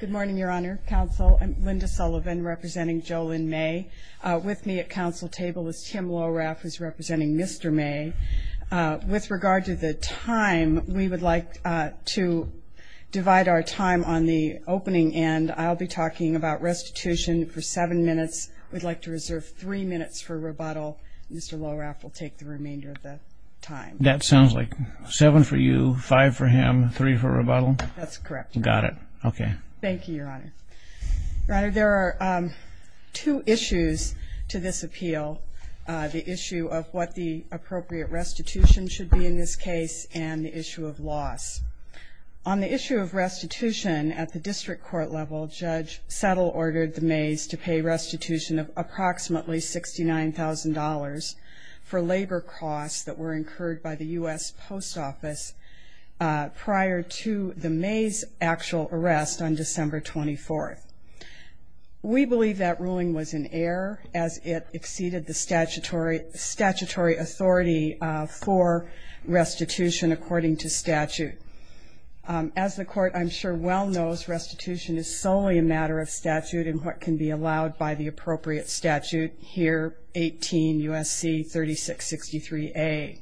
Good morning, Your Honor. Counsel, I'm Linda Sullivan, representing Jolynn May. With me at counsel table is Tim Lohraff, who's representing Mr. May. With regard to the time, we would like to divide our time on the opening end. I'll be talking about restitution for seven minutes. We'd like to reserve three minutes for rebuttal. Mr. Lohraff will take the remainder of the time. That sounds like seven for you, five for him, three for rebuttal? That's correct. Got it. Okay. Thank you, Your Honor. Your Honor, there are two issues to this appeal, the issue of what the appropriate restitution should be in this case and the issue of loss. On the issue of restitution, at the district court level, Judge Settle ordered the Mays to pay restitution of approximately $69,000 for labor costs that were incurred by the U.S. Post Office prior to the Mays' actual arrest on December 24th. We believe that ruling was an error as it exceeded the statutory authority for restitution according to statute. As the court, I'm sure, well knows, restitution is solely a matter of statute and what can be allowed by the appropriate statute here, 18 U.S.C. 3663A.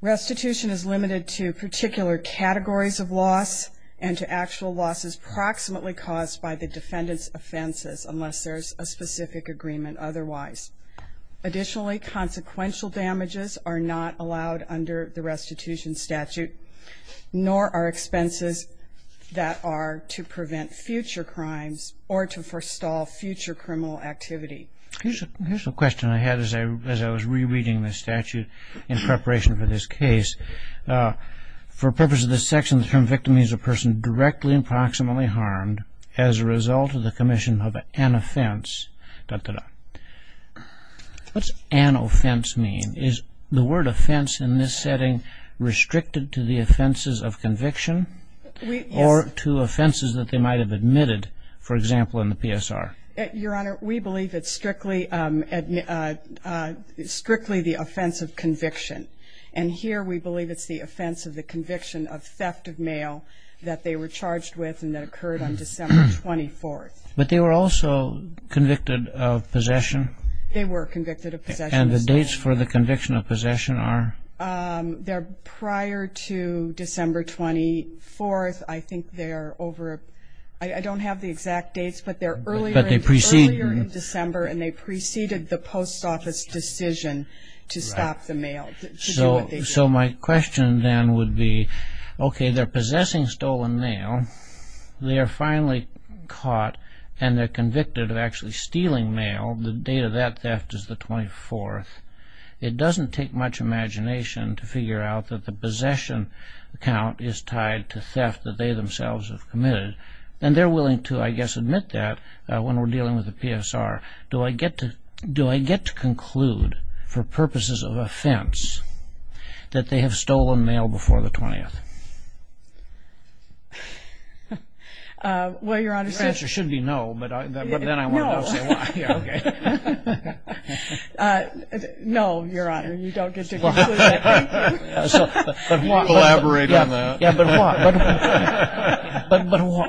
Restitution is limited to particular categories of loss and to actual losses approximately caused by the defendant's offenses, unless there's a specific agreement otherwise. Additionally, consequential damages are not allowed under the restitution statute, nor are expenses that are to prevent future crimes or to forestall future criminal activity. Here's a question I had as I was rereading the statute in preparation for this case. For purposes of this section, the term victim means a person directly and proximately harmed as a result of the commission of an offense. What's an offense mean? Is the word offense in this setting restricted to the offenses of conviction or to offenses that they might have admitted, for example, in the PSR? Your Honor, we believe it's strictly the offense of conviction. And here we believe it's the offense of the conviction of theft of mail that they were charged with and that occurred on December 24th. But they were also convicted of possession? They were convicted of possession. And the dates for the conviction of possession are? They're prior to December 24th. I think they're over a – I don't have the exact dates, but they're earlier in December and they preceded the post office decision to stop the mail, to do what they did. So my question then would be, okay, they're possessing stolen mail. They are finally caught and they're convicted of actually stealing mail. The date of that theft is the 24th. It doesn't take much imagination to figure out that the possession count is tied to theft that they themselves have committed. And they're willing to, I guess, admit that when we're dealing with the PSR. Do I get to conclude, for purposes of offense, that they have stolen mail before the 20th? Well, Your Honor. The answer should be no, but then I want to say why. No, Your Honor, you don't get to conclude that. But why? Collaborate on that. Yeah, but why?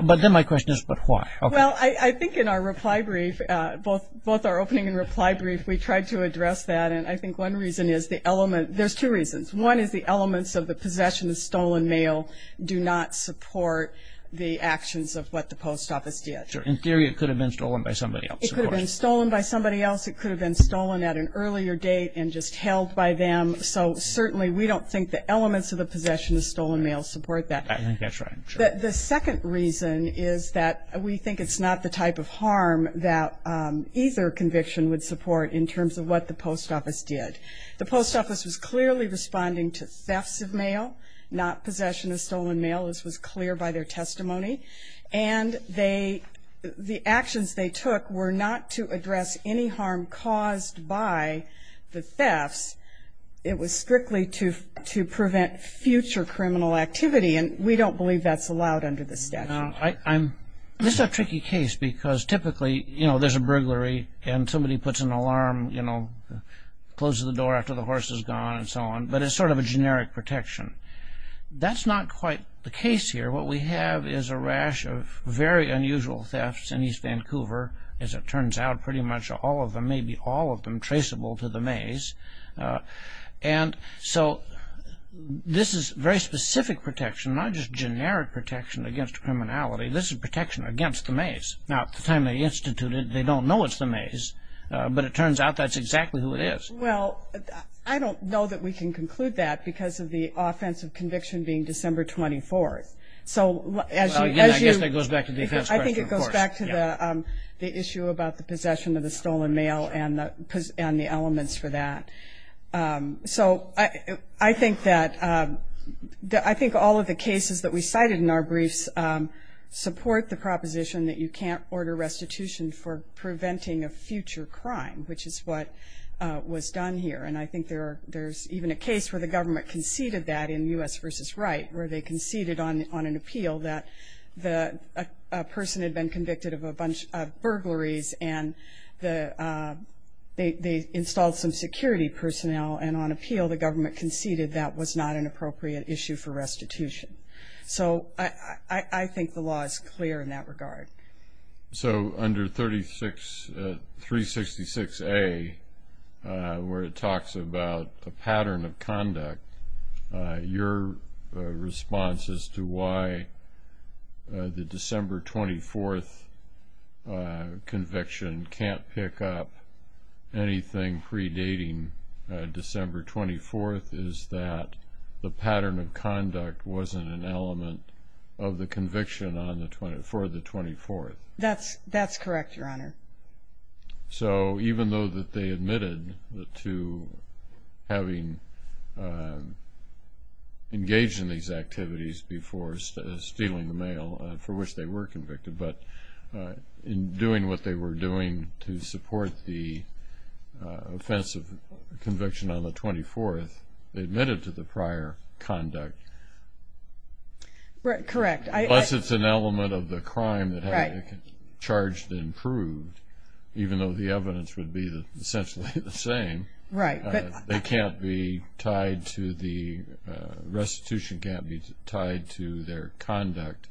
But then my question is, but why? Well, I think in our reply brief, both our opening and reply brief, we tried to address that. And I think one reason is the element – there's two reasons. One is the elements of the possession of stolen mail do not support the actions of what the post office did. In theory, it could have been stolen by somebody else. It could have been stolen by somebody else. It could have been stolen at an earlier date and just held by them. So certainly we don't think the elements of the possession of stolen mail support that. I think that's right. The second reason is that we think it's not the type of harm that either conviction would support in terms of what the post office did. The post office was clearly responding to thefts of mail, not possession of stolen mail. This was clear by their testimony. And the actions they took were not to address any harm caused by the thefts. It was strictly to prevent future criminal activity, and we don't believe that's allowed under the statute. This is a tricky case because typically there's a burglary and somebody puts an alarm, closes the door after the horse is gone and so on, but it's sort of a generic protection. That's not quite the case here. What we have is a rash of very unusual thefts in East Vancouver. As it turns out, pretty much all of them, maybe all of them, traceable to the maze. And so this is very specific protection, not just generic protection against criminality. This is protection against the maze. Now, at the time they instituted it, they don't know it's the maze, but it turns out that's exactly who it is. Well, I don't know that we can conclude that because of the offensive conviction being December 24th. So as you- Well, again, I guess that goes back to the defense question, of course. It goes back to the issue about the possession of the stolen mail and the elements for that. So I think that all of the cases that we cited in our briefs support the proposition that you can't order restitution for preventing a future crime, which is what was done here. And I think there's even a case where the government conceded that in U.S. v. Wright, where they conceded on an appeal that a person had been convicted of a bunch of burglaries and they installed some security personnel. And on appeal, the government conceded that was not an appropriate issue for restitution. So I think the law is clear in that regard. So under 366A, where it talks about a pattern of conduct, your response as to why the December 24th conviction can't pick up anything predating December 24th is that the pattern of conduct wasn't an element of the conviction for the 24th. That's correct, Your Honor. So even though that they admitted to having engaged in these activities before stealing the mail, for which they were convicted, but in doing what they were doing to support the offensive conviction on the 24th, they admitted to the prior conduct. Correct. Unless it's an element of the crime that had been charged and proved, even though the evidence would be essentially the same. Right. They can't be tied to the restitution, can't be tied to their conduct,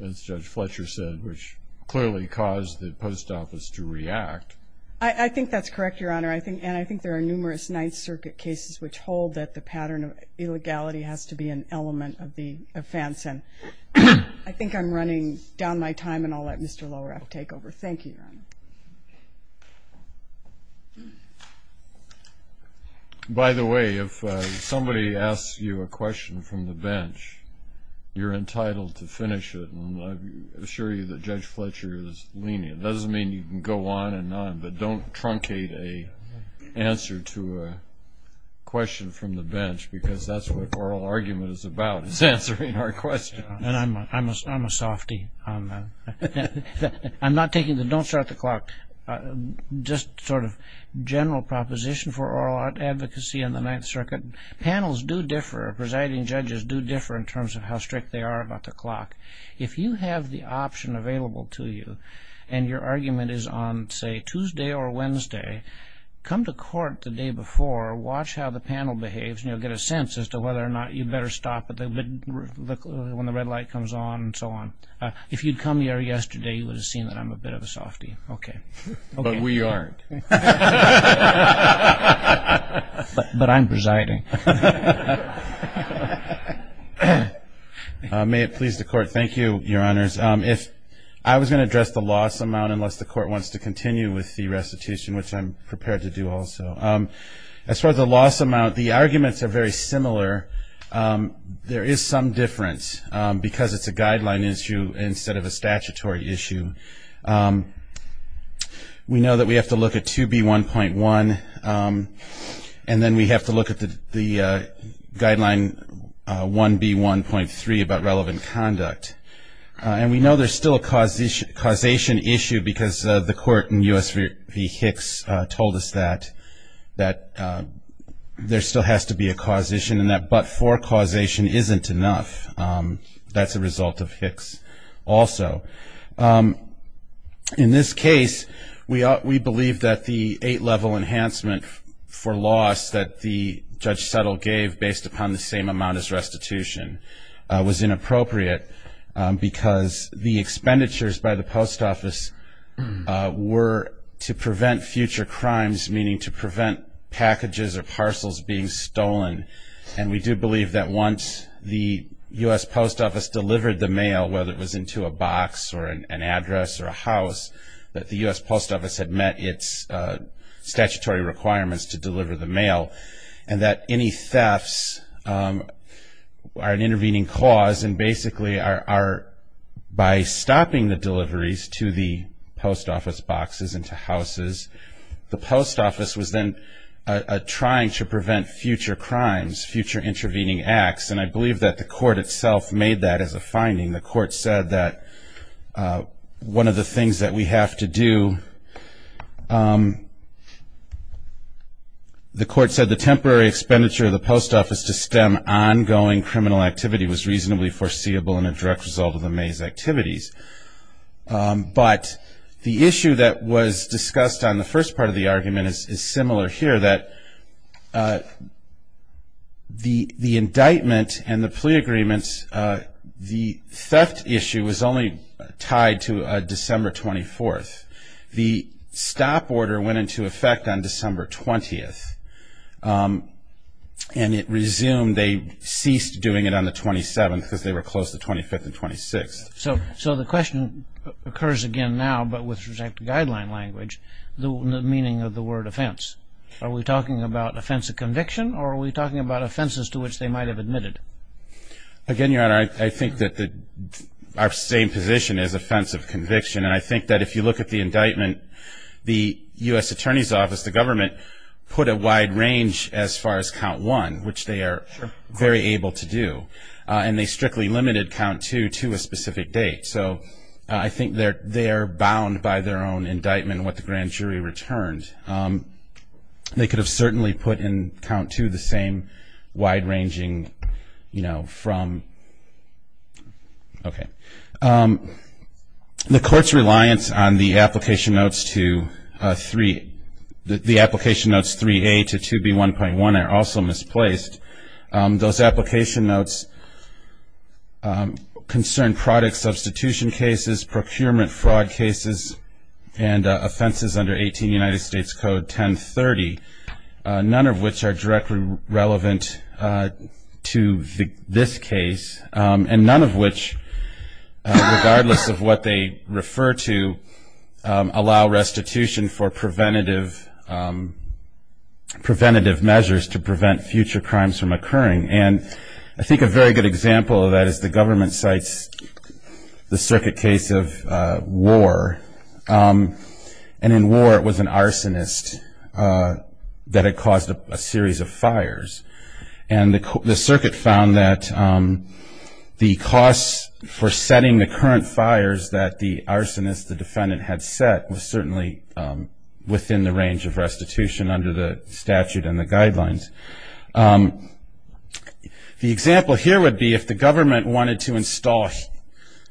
as Judge Fletcher said, which clearly caused the post office to react. I think that's correct, Your Honor, and I think there are numerous Ninth Circuit cases which hold that the pattern of illegality has to be an element of the offense. And I think I'm running down my time, and I'll let Mr. Lowraff take over. Thank you, Your Honor. By the way, if somebody asks you a question from the bench, you're entitled to finish it, and I assure you that Judge Fletcher is lenient. It doesn't mean you can go on and on, but don't truncate an answer to a question from the bench, because that's what oral argument is about, is answering our question. I'm a softy. I'm not taking the don't start the clock, just sort of general proposition for oral advocacy on the Ninth Circuit. Panels do differ, presiding judges do differ in terms of how strict they are about the clock. If you have the option available to you and your argument is on, say, Tuesday or Wednesday, come to court the day before, watch how the panel behaves, and you'll get a sense as to whether or not you'd better stop when the red light comes on and so on. If you'd come here yesterday, you would have seen that I'm a bit of a softy. Okay. But we aren't. But I'm presiding. May it please the Court. Thank you, Your Honors. I was going to address the loss amount, unless the Court wants to continue with the restitution, which I'm prepared to do also. As far as the loss amount, the arguments are very similar. There is some difference, because it's a guideline issue instead of a statutory issue. We know that we have to look at 2B1.1, and then we have to look at the statute, the guideline 1B1.3 about relevant conduct. And we know there's still a causation issue, because the Court in U.S. v. Hicks told us that, that there still has to be a causation, and that but-for causation isn't enough. That's a result of Hicks also. In this case, we believe that the eight-level enhancement for loss that the judge settled gave, based upon the same amount as restitution, was inappropriate, because the expenditures by the post office were to prevent future crimes, meaning to prevent packages or parcels being stolen. And we do believe that once the U.S. Post Office delivered the mail, whether it was into a box or an address or a house, that the U.S. Post Office had met its statutory requirements to deliver the mail, and that any thefts are an intervening cause and basically are, by stopping the deliveries to the post office boxes and to houses, the post office was then trying to prevent future crimes, future intervening acts. And I believe that the Court itself made that as a finding. The Court said that one of the things that we have to do, the Court said the temporary expenditure of the post office to stem ongoing criminal activity was reasonably foreseeable and a direct result of the maze activities. But the issue that was discussed on the first part of the argument is similar here, that the indictment and the plea agreements, the theft issue was only tied to December 24th. The stop order went into effect on December 20th, and it resumed, they ceased doing it on the 27th, because they were closed the 25th and 26th. So the question occurs again now, but with respect to guideline language, the meaning of the word offense. Are we talking about offense of conviction, or are we talking about offenses to which they might have admitted? Again, Your Honor, I think that our same position is offense of conviction, and I think that if you look at the indictment, the U.S. Attorney's Office, the government, put a wide range as far as count one, which they are very able to do, and they strictly limited count two to a specific date. So I think they are bound by their own indictment what the grand jury returned. They could have certainly put in count two the same wide-ranging, you know, from. Okay. The Court's reliance on the application notes to three, the application notes 3A to 2B1.1 are also misplaced. Those application notes concern product substitution cases, procurement fraud cases, and offenses under 18 United States Code 1030, none of which are directly relevant to this case, and none of which, regardless of what they refer to, allow restitution for preventative measures to prevent future crimes from occurring. And I think a very good example of that is the government cites the circuit case of war, and in war it was an arsonist that had caused a series of fires. And the circuit found that the costs for setting the current fires that the arsonist, the defendant, had set, was certainly within the range of restitution under the statute and the guidelines. The example here would be if the government wanted to install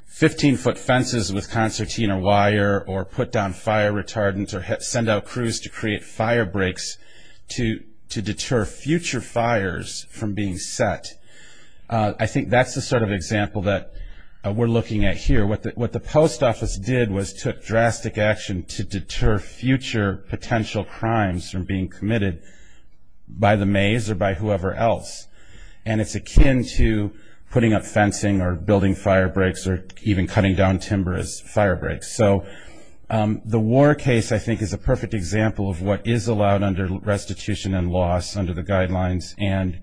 15-foot fences with concertina wire or put down fire retardants or send out crews to create fire breaks to deter future fires from being set. I think that's the sort of example that we're looking at here. What the post office did was took drastic action to deter future potential crimes from being committed by the maze or by whoever else, and it's akin to putting up fencing or building fire breaks or even cutting down timber as fire breaks. So the war case, I think, is a perfect example of what is allowed under restitution and laws under the guidelines, and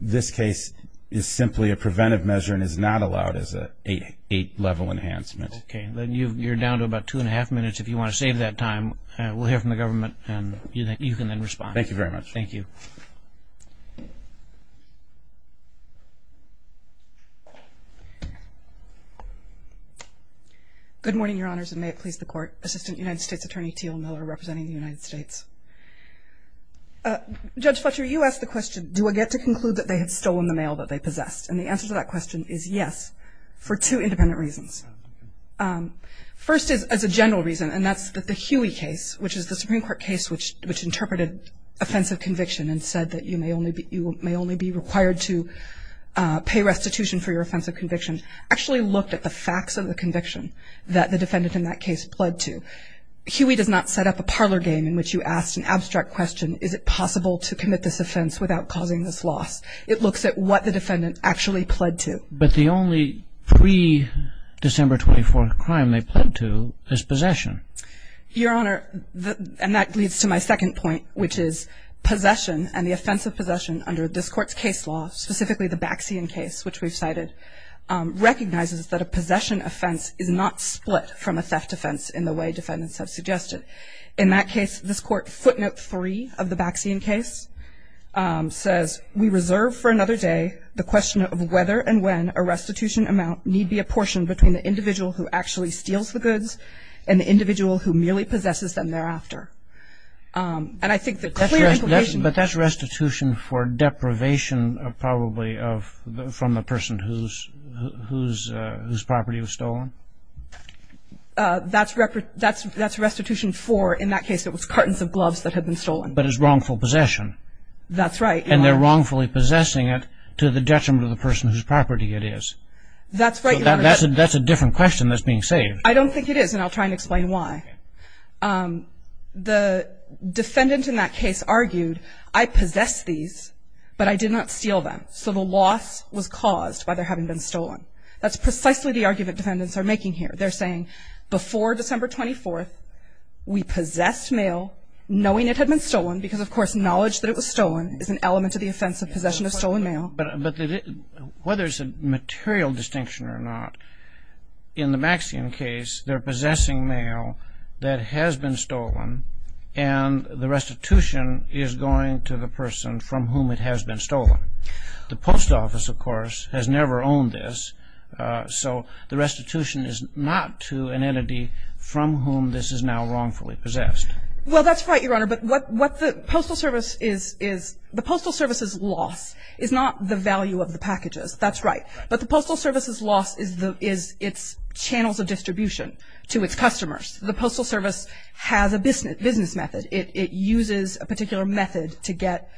this case is simply a preventive measure and is not allowed as an eight-level enhancement. Okay. You're down to about two-and-a-half minutes if you want to save that time. We'll hear from the government and you can then respond. Thank you very much. Thank you. Good morning, Your Honors, and may it please the Court. Assistant United States Attorney Teal Miller representing the United States. Judge Fletcher, you asked the question, do I get to conclude that they had stolen the mail that they possessed? And the answer to that question is yes, for two independent reasons. First is as a general reason, and that's that the Huey case, which is the Supreme Court case which interpreted offensive conviction and said that you may only be required to pay restitution for your offensive conviction, actually looked at the facts of the conviction that the defendant in that case pled to. Huey does not set up a parlor game in which you ask an abstract question, is it possible to commit this offense without causing this loss? It looks at what the defendant actually pled to. But the only pre-December 24th crime they pled to is possession. Your Honor, and that leads to my second point, which is possession and the offense of possession under this Court's case law, specifically the Baxian case which we've cited, recognizes that a possession offense is not split from a theft offense in the way defendants have suggested. In that case, this Court footnote 3 of the Baxian case says, we reserve for another day the question of whether and when a restitution amount need be apportioned between the individual who actually steals the goods and the individual who merely possesses them thereafter. And I think the clear implication- But that's restitution for deprivation, probably, from the person whose property was stolen? That's restitution for, in that case, it was cartons of gloves that had been stolen. But it's wrongful possession. That's right, Your Honor. And they're wrongfully possessing it to the detriment of the person whose property it is. That's right, Your Honor. So that's a different question that's being saved. I don't think it is, and I'll try and explain why. Okay. The defendant in that case argued, I possess these, but I did not steal them. So the loss was caused by their having been stolen. That's precisely the argument defendants are making here. They're saying, before December 24th, we possessed mail, knowing it had been stolen, because, of course, knowledge that it was stolen is an element of the offense of possession of stolen mail. But whether it's a material distinction or not, in the Maxian case, they're possessing mail that has been stolen, and the restitution is going to the person from whom it has been stolen. The post office, of course, has never owned this, so the restitution is not to an entity from whom this is now wrongfully possessed. Well, that's right, Your Honor. But what the Postal Service is, the Postal Service's loss is not the value of the packages. That's right. But the Postal Service's loss is its channels of distribution to its customers. The Postal Service has a business method. It uses a particular method to get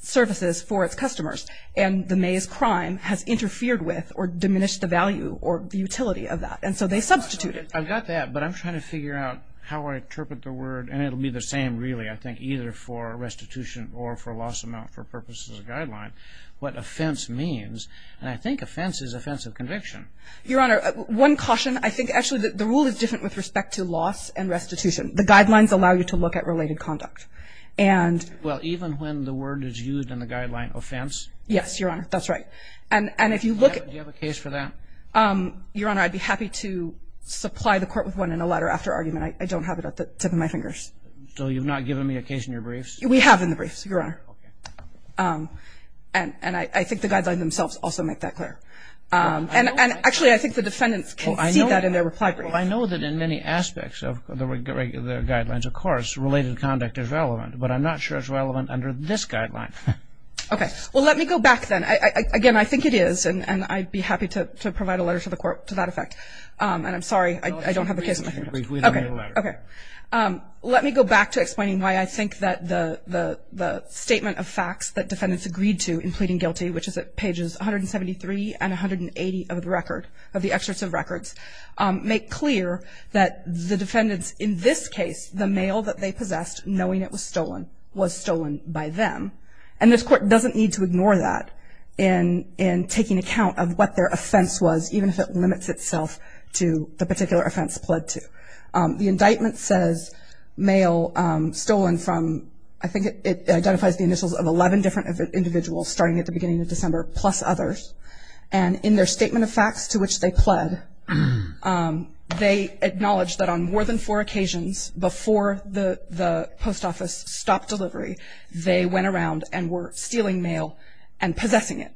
services for its customers, and the maize crime has interfered with or diminished the value or the utility of that, and so they substitute it. I've got that, but I'm trying to figure out how I interpret the word, and it will be the same, really, I think, either for restitution or for loss amount, for purposes of the guideline, what offense means. And I think offense is offense of conviction. Your Honor, one caution. I think, actually, the rule is different with respect to loss and restitution. The guidelines allow you to look at related conduct. Well, even when the word is used in the guideline, offense? Yes, Your Honor. That's right. Do you have a case for that? Your Honor, I'd be happy to supply the Court with one in a latter-after argument. I don't have it at the tip of my fingers. So you've not given me a case in your briefs? We have in the briefs, Your Honor. Okay. And I think the guidelines themselves also make that clear. And, actually, I think the defendants can see that in their reply brief. Well, I know that in many aspects of the guidelines, of course, related conduct is relevant, but I'm not sure it's relevant under this guideline. Okay. Well, let me go back then. Again, I think it is, and I'd be happy to provide a letter to the Court to that effect. And I'm sorry, I don't have a case in my fingers. Please read the letter. Okay. Let me go back to explaining why I think that the statement of facts that defendants agreed to in pleading guilty, which is at pages 173 and 180 of the record, of the excerpts of records, make clear that the defendants in this case, the mail that they possessed, knowing it was stolen, was stolen by them. And this Court doesn't need to ignore that in taking account of what their offense was, even if it limits itself to the particular offense pled to. The indictment says mail stolen from, I think it identifies the initials of 11 different individuals starting at the beginning of December, plus others. And in their statement of facts to which they pled, they acknowledge that on more than four occasions before the post office stopped delivery, they went around and were stealing mail and possessing it.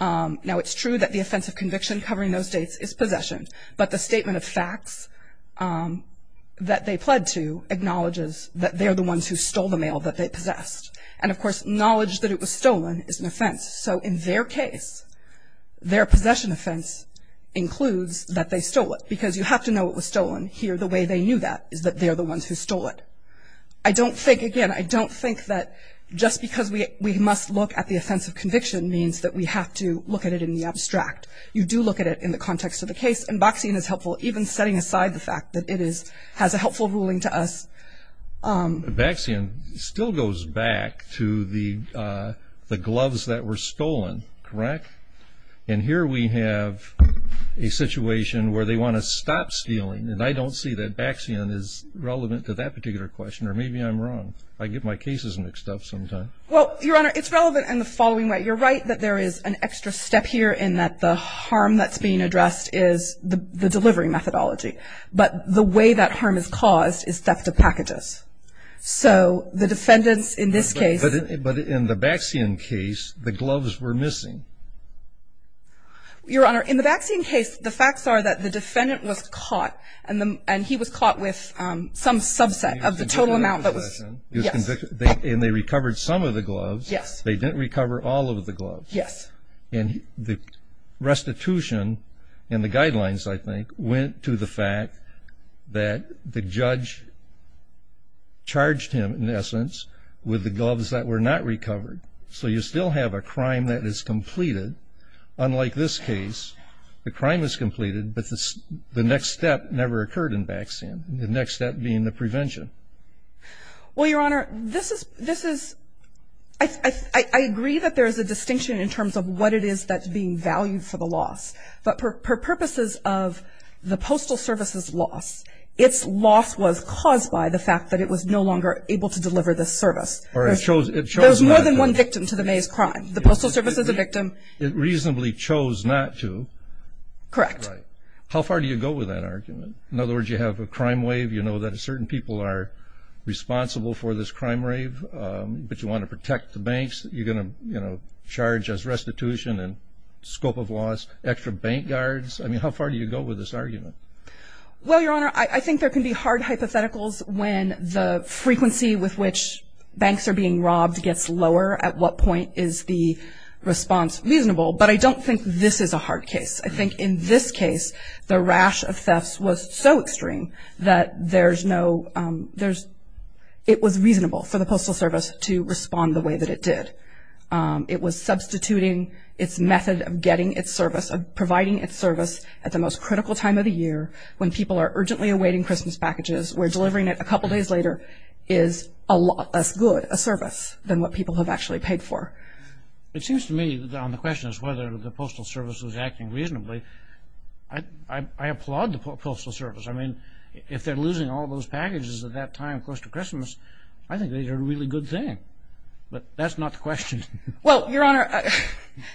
Now, it's true that the offense of conviction covering those dates is possession, but the statement of facts that they pled to acknowledges that they're the ones who stole the mail that they possessed. And, of course, knowledge that it was stolen is an offense. So in their case, their possession offense includes that they stole it, because you have to know it was stolen. Here, the way they knew that is that they're the ones who stole it. I don't think, again, I don't think that just because we must look at the offense of conviction means that we have to look at it in the abstract. You do look at it in the context of the case. And Baxian is helpful even setting aside the fact that it has a helpful ruling to us. Baxian still goes back to the gloves that were stolen, correct? And here we have a situation where they want to stop stealing. And I don't see that Baxian is relevant to that particular question, or maybe I'm wrong. I get my cases mixed up sometimes. Well, Your Honor, it's relevant in the following way. You're right that there is an extra step here in that the harm that's being addressed is the delivery methodology. But the way that harm is caused is theft of packages. So the defendants in this case. But in the Baxian case, the gloves were missing. Your Honor, in the Baxian case, the facts are that the defendant was caught, and he was caught with some subset of the total amount that was. Yes. And they recovered some of the gloves. Yes. They didn't recover all of the gloves. Yes. And the restitution and the guidelines, I think, went to the fact that the judge charged him, in essence, with the gloves that were not recovered. So you still have a crime that is completed. Unlike this case, the crime is completed, but the next step never occurred in Baxian, the next step being the prevention. Well, Your Honor, this is, I agree that there is a distinction in terms of what it is that's being valued for the loss. But for purposes of the Postal Service's loss, its loss was caused by the fact that it was no longer able to deliver the service. Or it chose not to. There's more than one victim to the Mays crime. The Postal Service is a victim. It reasonably chose not to. Correct. Right. How far do you go with that argument? In other words, you have a crime wave. You know that certain people are responsible for this crime wave, but you want to protect the banks. You're going to, you know, charge as restitution and scope of loss, extra bank guards. I mean, how far do you go with this argument? Well, Your Honor, I think there can be hard hypotheticals when the frequency with which banks are being robbed gets lower at what point is the response reasonable. But I don't think this is a hard case. I think in this case, the rash of thefts was so extreme that there's no, there's, it was reasonable for the Postal Service to respond the way that it did. It was substituting its method of getting its service, of providing its service, at the most critical time of the year when people are urgently awaiting Christmas packages, where delivering it a couple days later is a lot less good, a service, than what people have actually paid for. It seems to me, on the question as to whether the Postal Service was acting reasonably, I applaud the Postal Service. I mean, if they're losing all those packages at that time close to Christmas, I think they did a really good thing. But that's not the question. Well, Your Honor,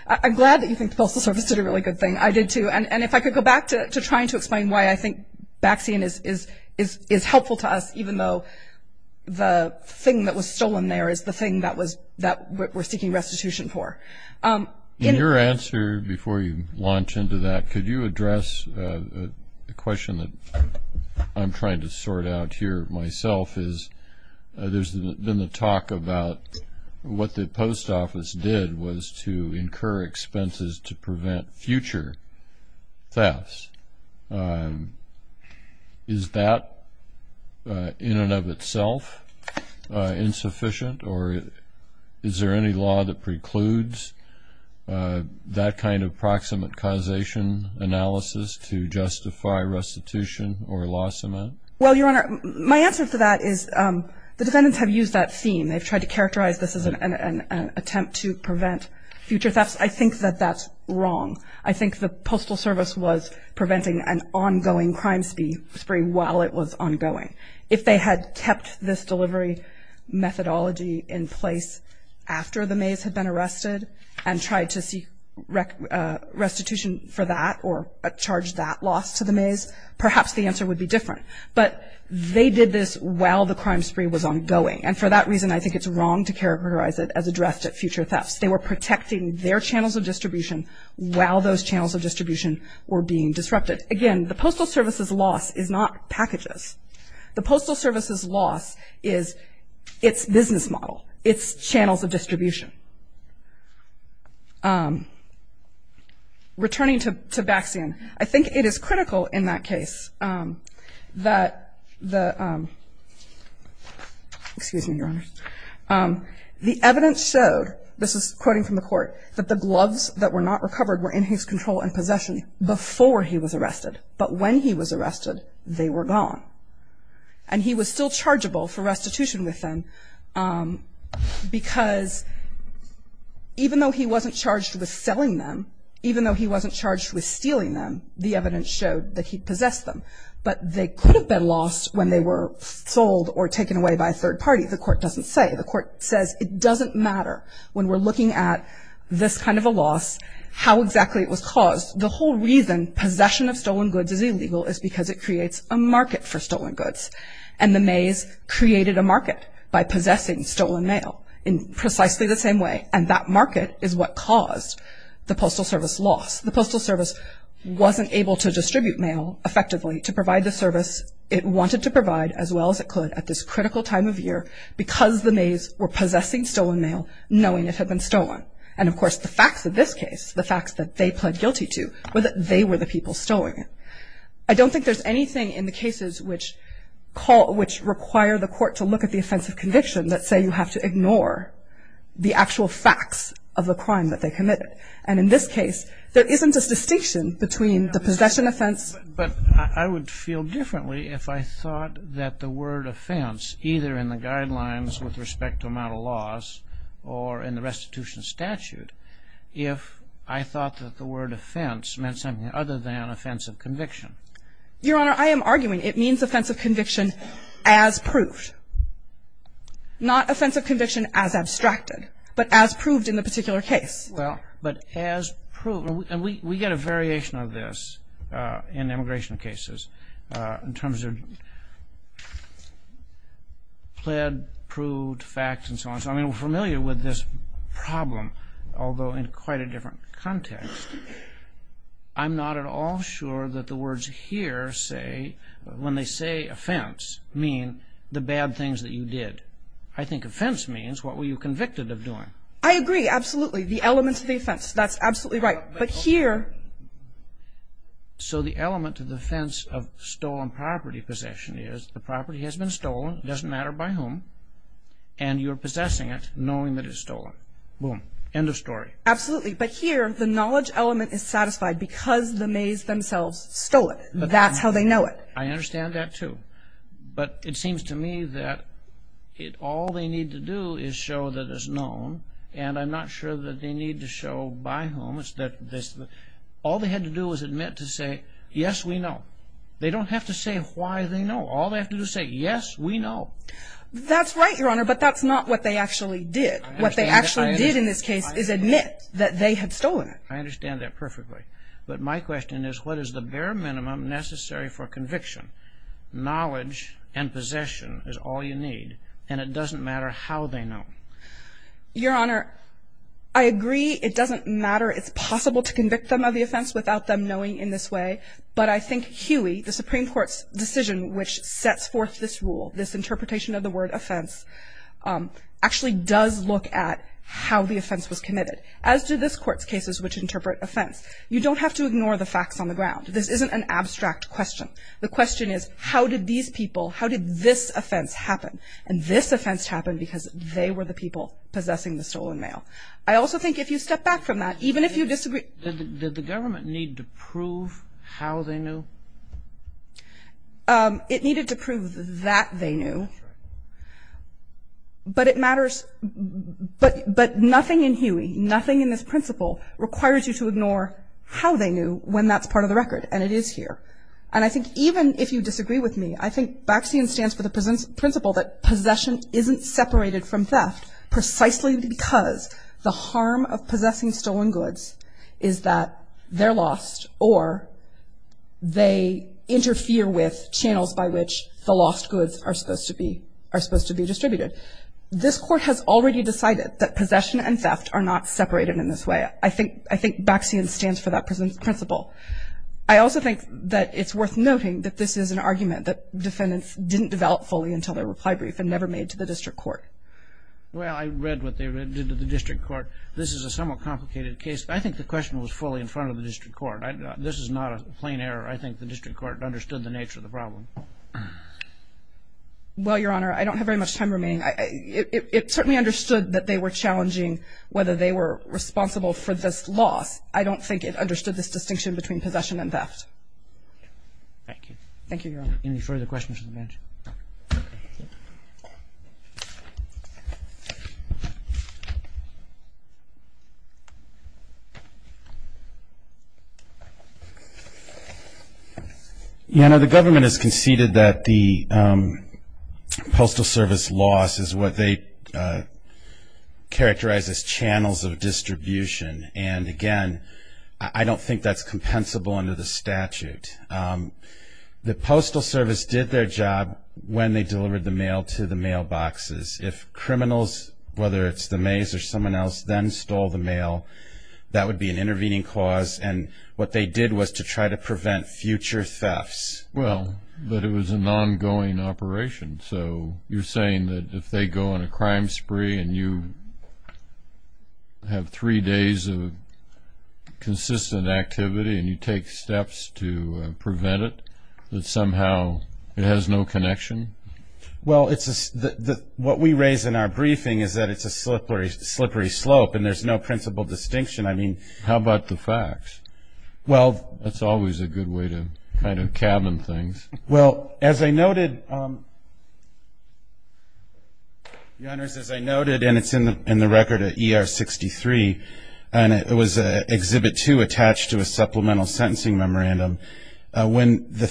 I'm glad that you think the Postal Service did a really good thing. I did, too. And if I could go back to trying to explain why I think Baxian is helpful to us, even though the thing that was stolen there is the thing that we're seeking restitution for. In your answer, before you launch into that, could you address the question that I'm trying to sort out here myself is, there's been a talk about what the Post Office did was to incur expenses to prevent future thefts. Is that, in and of itself, insufficient? Or is there any law that precludes that kind of proximate causation analysis to justify restitution or loss amount? Well, Your Honor, my answer to that is the defendants have used that theme. They've tried to characterize this as an attempt to prevent future thefts. I think that that's wrong. I think the Postal Service was preventing an ongoing crime spree while it was ongoing. If they had kept this delivery methodology in place after the maize had been arrested and tried to seek restitution for that or charge that loss to the maize, perhaps the answer would be different. But they did this while the crime spree was ongoing. And for that reason, I think it's wrong to characterize it as addressed at future thefts. They were protecting their channels of distribution while those channels of distribution were being disrupted. Again, the Postal Service's loss is not packages. The Postal Service's loss is its business model, its channels of distribution. Returning to Baxian, I think it is critical in that case that the – excuse me, Your Honor. The evidence showed, this is quoting from the court, that the gloves that were not recovered were in his control and possession before he was arrested. But when he was arrested, they were gone. And he was still chargeable for restitution with them because even though he wasn't charged with selling them, even though he wasn't charged with stealing them, the evidence showed that he possessed them. But they could have been lost when they were sold or taken away by a third party. The court doesn't say. The court says it doesn't matter when we're looking at this kind of a loss how exactly it was caused. The whole reason possession of stolen goods is illegal is because it creates a market for stolen goods. And the maize created a market by possessing stolen mail in precisely the same way. And that market is what caused the Postal Service's loss. The Postal Service wasn't able to distribute mail effectively to provide the service it wanted to provide as well as it could at this critical time of year because the maize were possessing stolen mail, knowing it had been stolen. And, of course, the facts of this case, the facts that they pled guilty to, were that they were the people stolen. I don't think there's anything in the cases which call, which require the court to look at the offense of conviction that say you have to ignore the actual facts of the crime that they committed. And in this case, there isn't a distinction between the possession offense. But I would feel differently if I thought that the word offense, either in the guidelines with respect to amount of loss or in the restitution statute, if I thought that the word offense meant something other than offense of conviction. Your Honor, I am arguing it means offense of conviction as proved. Not offense of conviction as abstracted, but as proved in the particular case. Well, but as proved, and we get a variation of this in immigration cases in terms of pled, proved, facts, and so on. So, I mean, we're familiar with this problem, although in quite a different context. I'm not at all sure that the words here say, when they say offense, mean the bad things that you did. I think offense means what were you convicted of doing. I agree. Absolutely. The element to the offense. That's absolutely right. But here. So the element to the offense of stolen property possession is the property has been stolen. It doesn't matter by whom. And you're possessing it, knowing that it's stolen. Boom. End of story. Absolutely. But here, the knowledge element is satisfied because the maize themselves stole it. That's how they know it. I understand that, too. But it seems to me that all they need to do is show that it's known, and I'm not sure that they need to show by whom. All they had to do was admit to say, yes, we know. They don't have to say why they know. All they have to do is say, yes, we know. That's right, Your Honor, but that's not what they actually did. What they actually did in this case is admit that they had stolen it. I understand that perfectly. But my question is, what is the bare minimum necessary for conviction? Knowledge and possession is all you need, and it doesn't matter how they know. Your Honor, I agree it doesn't matter. It's possible to convict them of the offense without them knowing in this way. But I think Huey, the Supreme Court's decision which sets forth this rule, this interpretation of the word offense, actually does look at how the offense was committed, as do this Court's cases which interpret offense. You don't have to ignore the facts on the ground. This isn't an abstract question. The question is, how did these people, how did this offense happen? And this offense happened because they were the people possessing the stolen mail. I also think if you step back from that, even if you disagree. Did the government need to prove how they knew? It needed to prove that they knew. That's right. But it matters. But nothing in Huey, nothing in this principle requires you to ignore how they knew when that's part of the record, and it is here. And I think even if you disagree with me, I think Baxian stands for the principle that possession isn't separated from theft precisely because the harm of possessing stolen goods is that they're lost or they interfere with channels by which the lost goods are supposed to be distributed. This Court has already decided that possession and theft are not separated in this way. I think Baxian stands for that principle. I also think that it's worth noting that this is an argument that defendants didn't develop fully until their reply brief and never made to the district court. Well, I read what they did to the district court. This is a somewhat complicated case. I think the question was fully in front of the district court. This is not a plain error. I think the district court understood the nature of the problem. Well, Your Honor, I don't have very much time remaining. It certainly understood that they were challenging whether they were responsible for this loss. I don't think it understood this distinction between possession and theft. Thank you. Thank you, Your Honor. Any further questions from the bench? Your Honor, the government has conceded that the postal service loss is what they characterize as channels of distribution. And, again, I don't think that's compensable under the statute. The postal service did their job when they delivered the mail to the mailboxes. If criminals, whether it's the maize or someone else, then stole the mail, that would be an intervening cause. And what they did was to try to prevent future thefts. Well, but it was an ongoing operation. So you're saying that if they go on a crime spree and you have three days of consistent activity and you take steps to prevent it, that somehow it has no connection? Well, what we raise in our briefing is that it's a slippery slope and there's no principal distinction. How about the facts? That's always a good way to kind of cabin things. Well, as I noted, Your Honor, as I noted, and it's in the record at ER 63, and it was Exhibit 2 attached to a supplemental sentencing memorandum, when the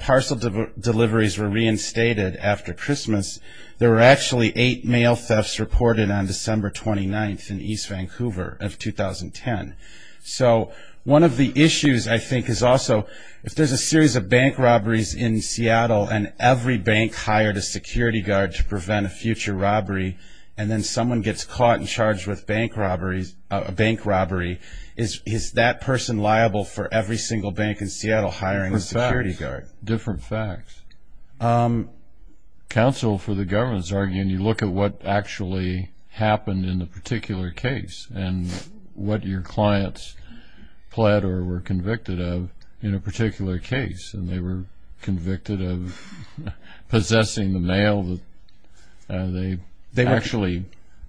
parcel deliveries were reinstated after Christmas, there were actually eight mail thefts reported on December 29th in East Vancouver of 2010. So one of the issues, I think, is also if there's a series of bank robberies in Seattle and every bank hired a security guard to prevent a future robbery and then someone gets caught and charged with a bank robbery, is that person liable for every single bank in Seattle hiring a security guard? Different facts. Counsel for the government is arguing you look at what actually happened in the particular case and what your clients pled or were convicted of in a particular case, and they were convicted of possessing the mail that they actually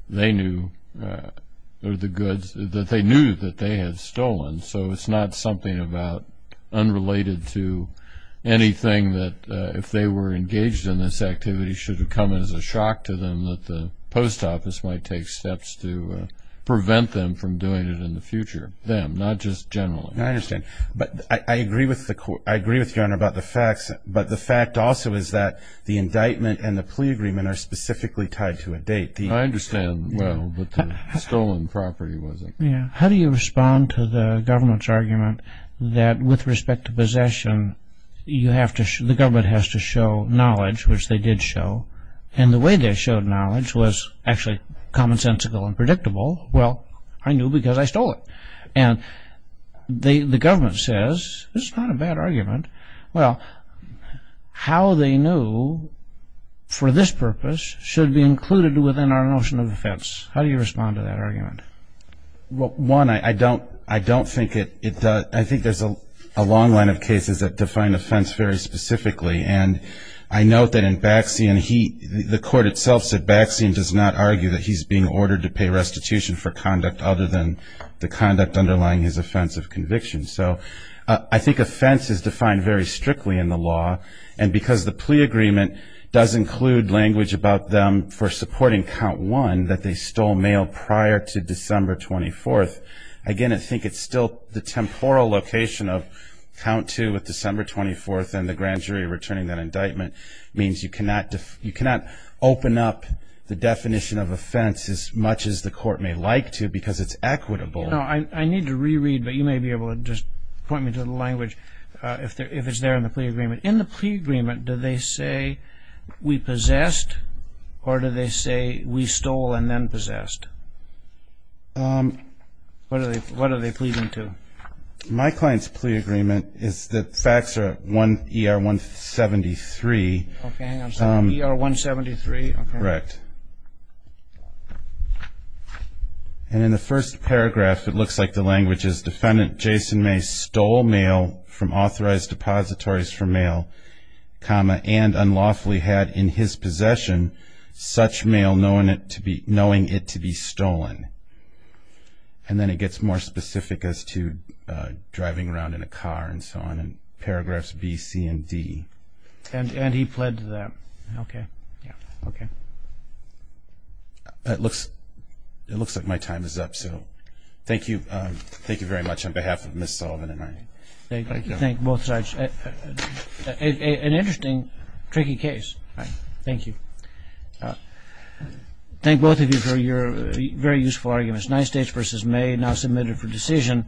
knew, or the goods that they knew that they had stolen. So it's not something about unrelated to anything that if they were engaged in this activity it should have come as a shock to them that the post office might take steps to prevent them from doing it in the future. Them, not just generally. I understand. But I agree with you, Your Honor, about the facts, but the fact also is that the indictment and the plea agreement are specifically tied to a date. I understand, well, but the stolen property wasn't. How do you respond to the government's argument that with respect to possession, the government has to show knowledge, which they did show, and the way they showed knowledge was actually commonsensical and predictable. Well, I knew because I stole it. And the government says, this is not a bad argument. Well, how they knew for this purpose should be included within our notion of offense. How do you respond to that argument? Well, one, I don't think it does. I think there's a long line of cases that define offense very specifically. And I note that in Baxian, the court itself said Baxian does not argue that he's being ordered to pay restitution for conduct other than the conduct underlying his offense of conviction. So I think offense is defined very strictly in the law. And because the plea agreement does include language about them for supporting count one, that they stole mail prior to December 24th, again, I think it's still the temporal location of count two with December 24th and the grand jury returning that indictment means you cannot open up the definition of offense as much as the court may like to because it's equitable. I need to reread, but you may be able to just point me to the language if it's there in the plea agreement. In the plea agreement, do they say we possessed or do they say we stole and then possessed? What are they pleading to? My client's plea agreement is that facts are 1ER173. Okay, hang on a second. ER173? Correct. And in the first paragraph, it looks like the language is, Defendant Jason May stole mail from authorized depositories for mail, and unlawfully had in his possession such mail knowing it to be stolen. And then it gets more specific as to driving around in a car and so on in paragraphs B, C, and D. And he pled to that. Okay. Yeah. Okay. It looks like my time is up. Thank you. Thank you very much on behalf of Ms. Sullivan and I. Thank you. Thank you, both sides. An interesting, tricky case. Right. Thank you. Thank both of you for your very useful arguments. Nine states versus May, now submitted for decision.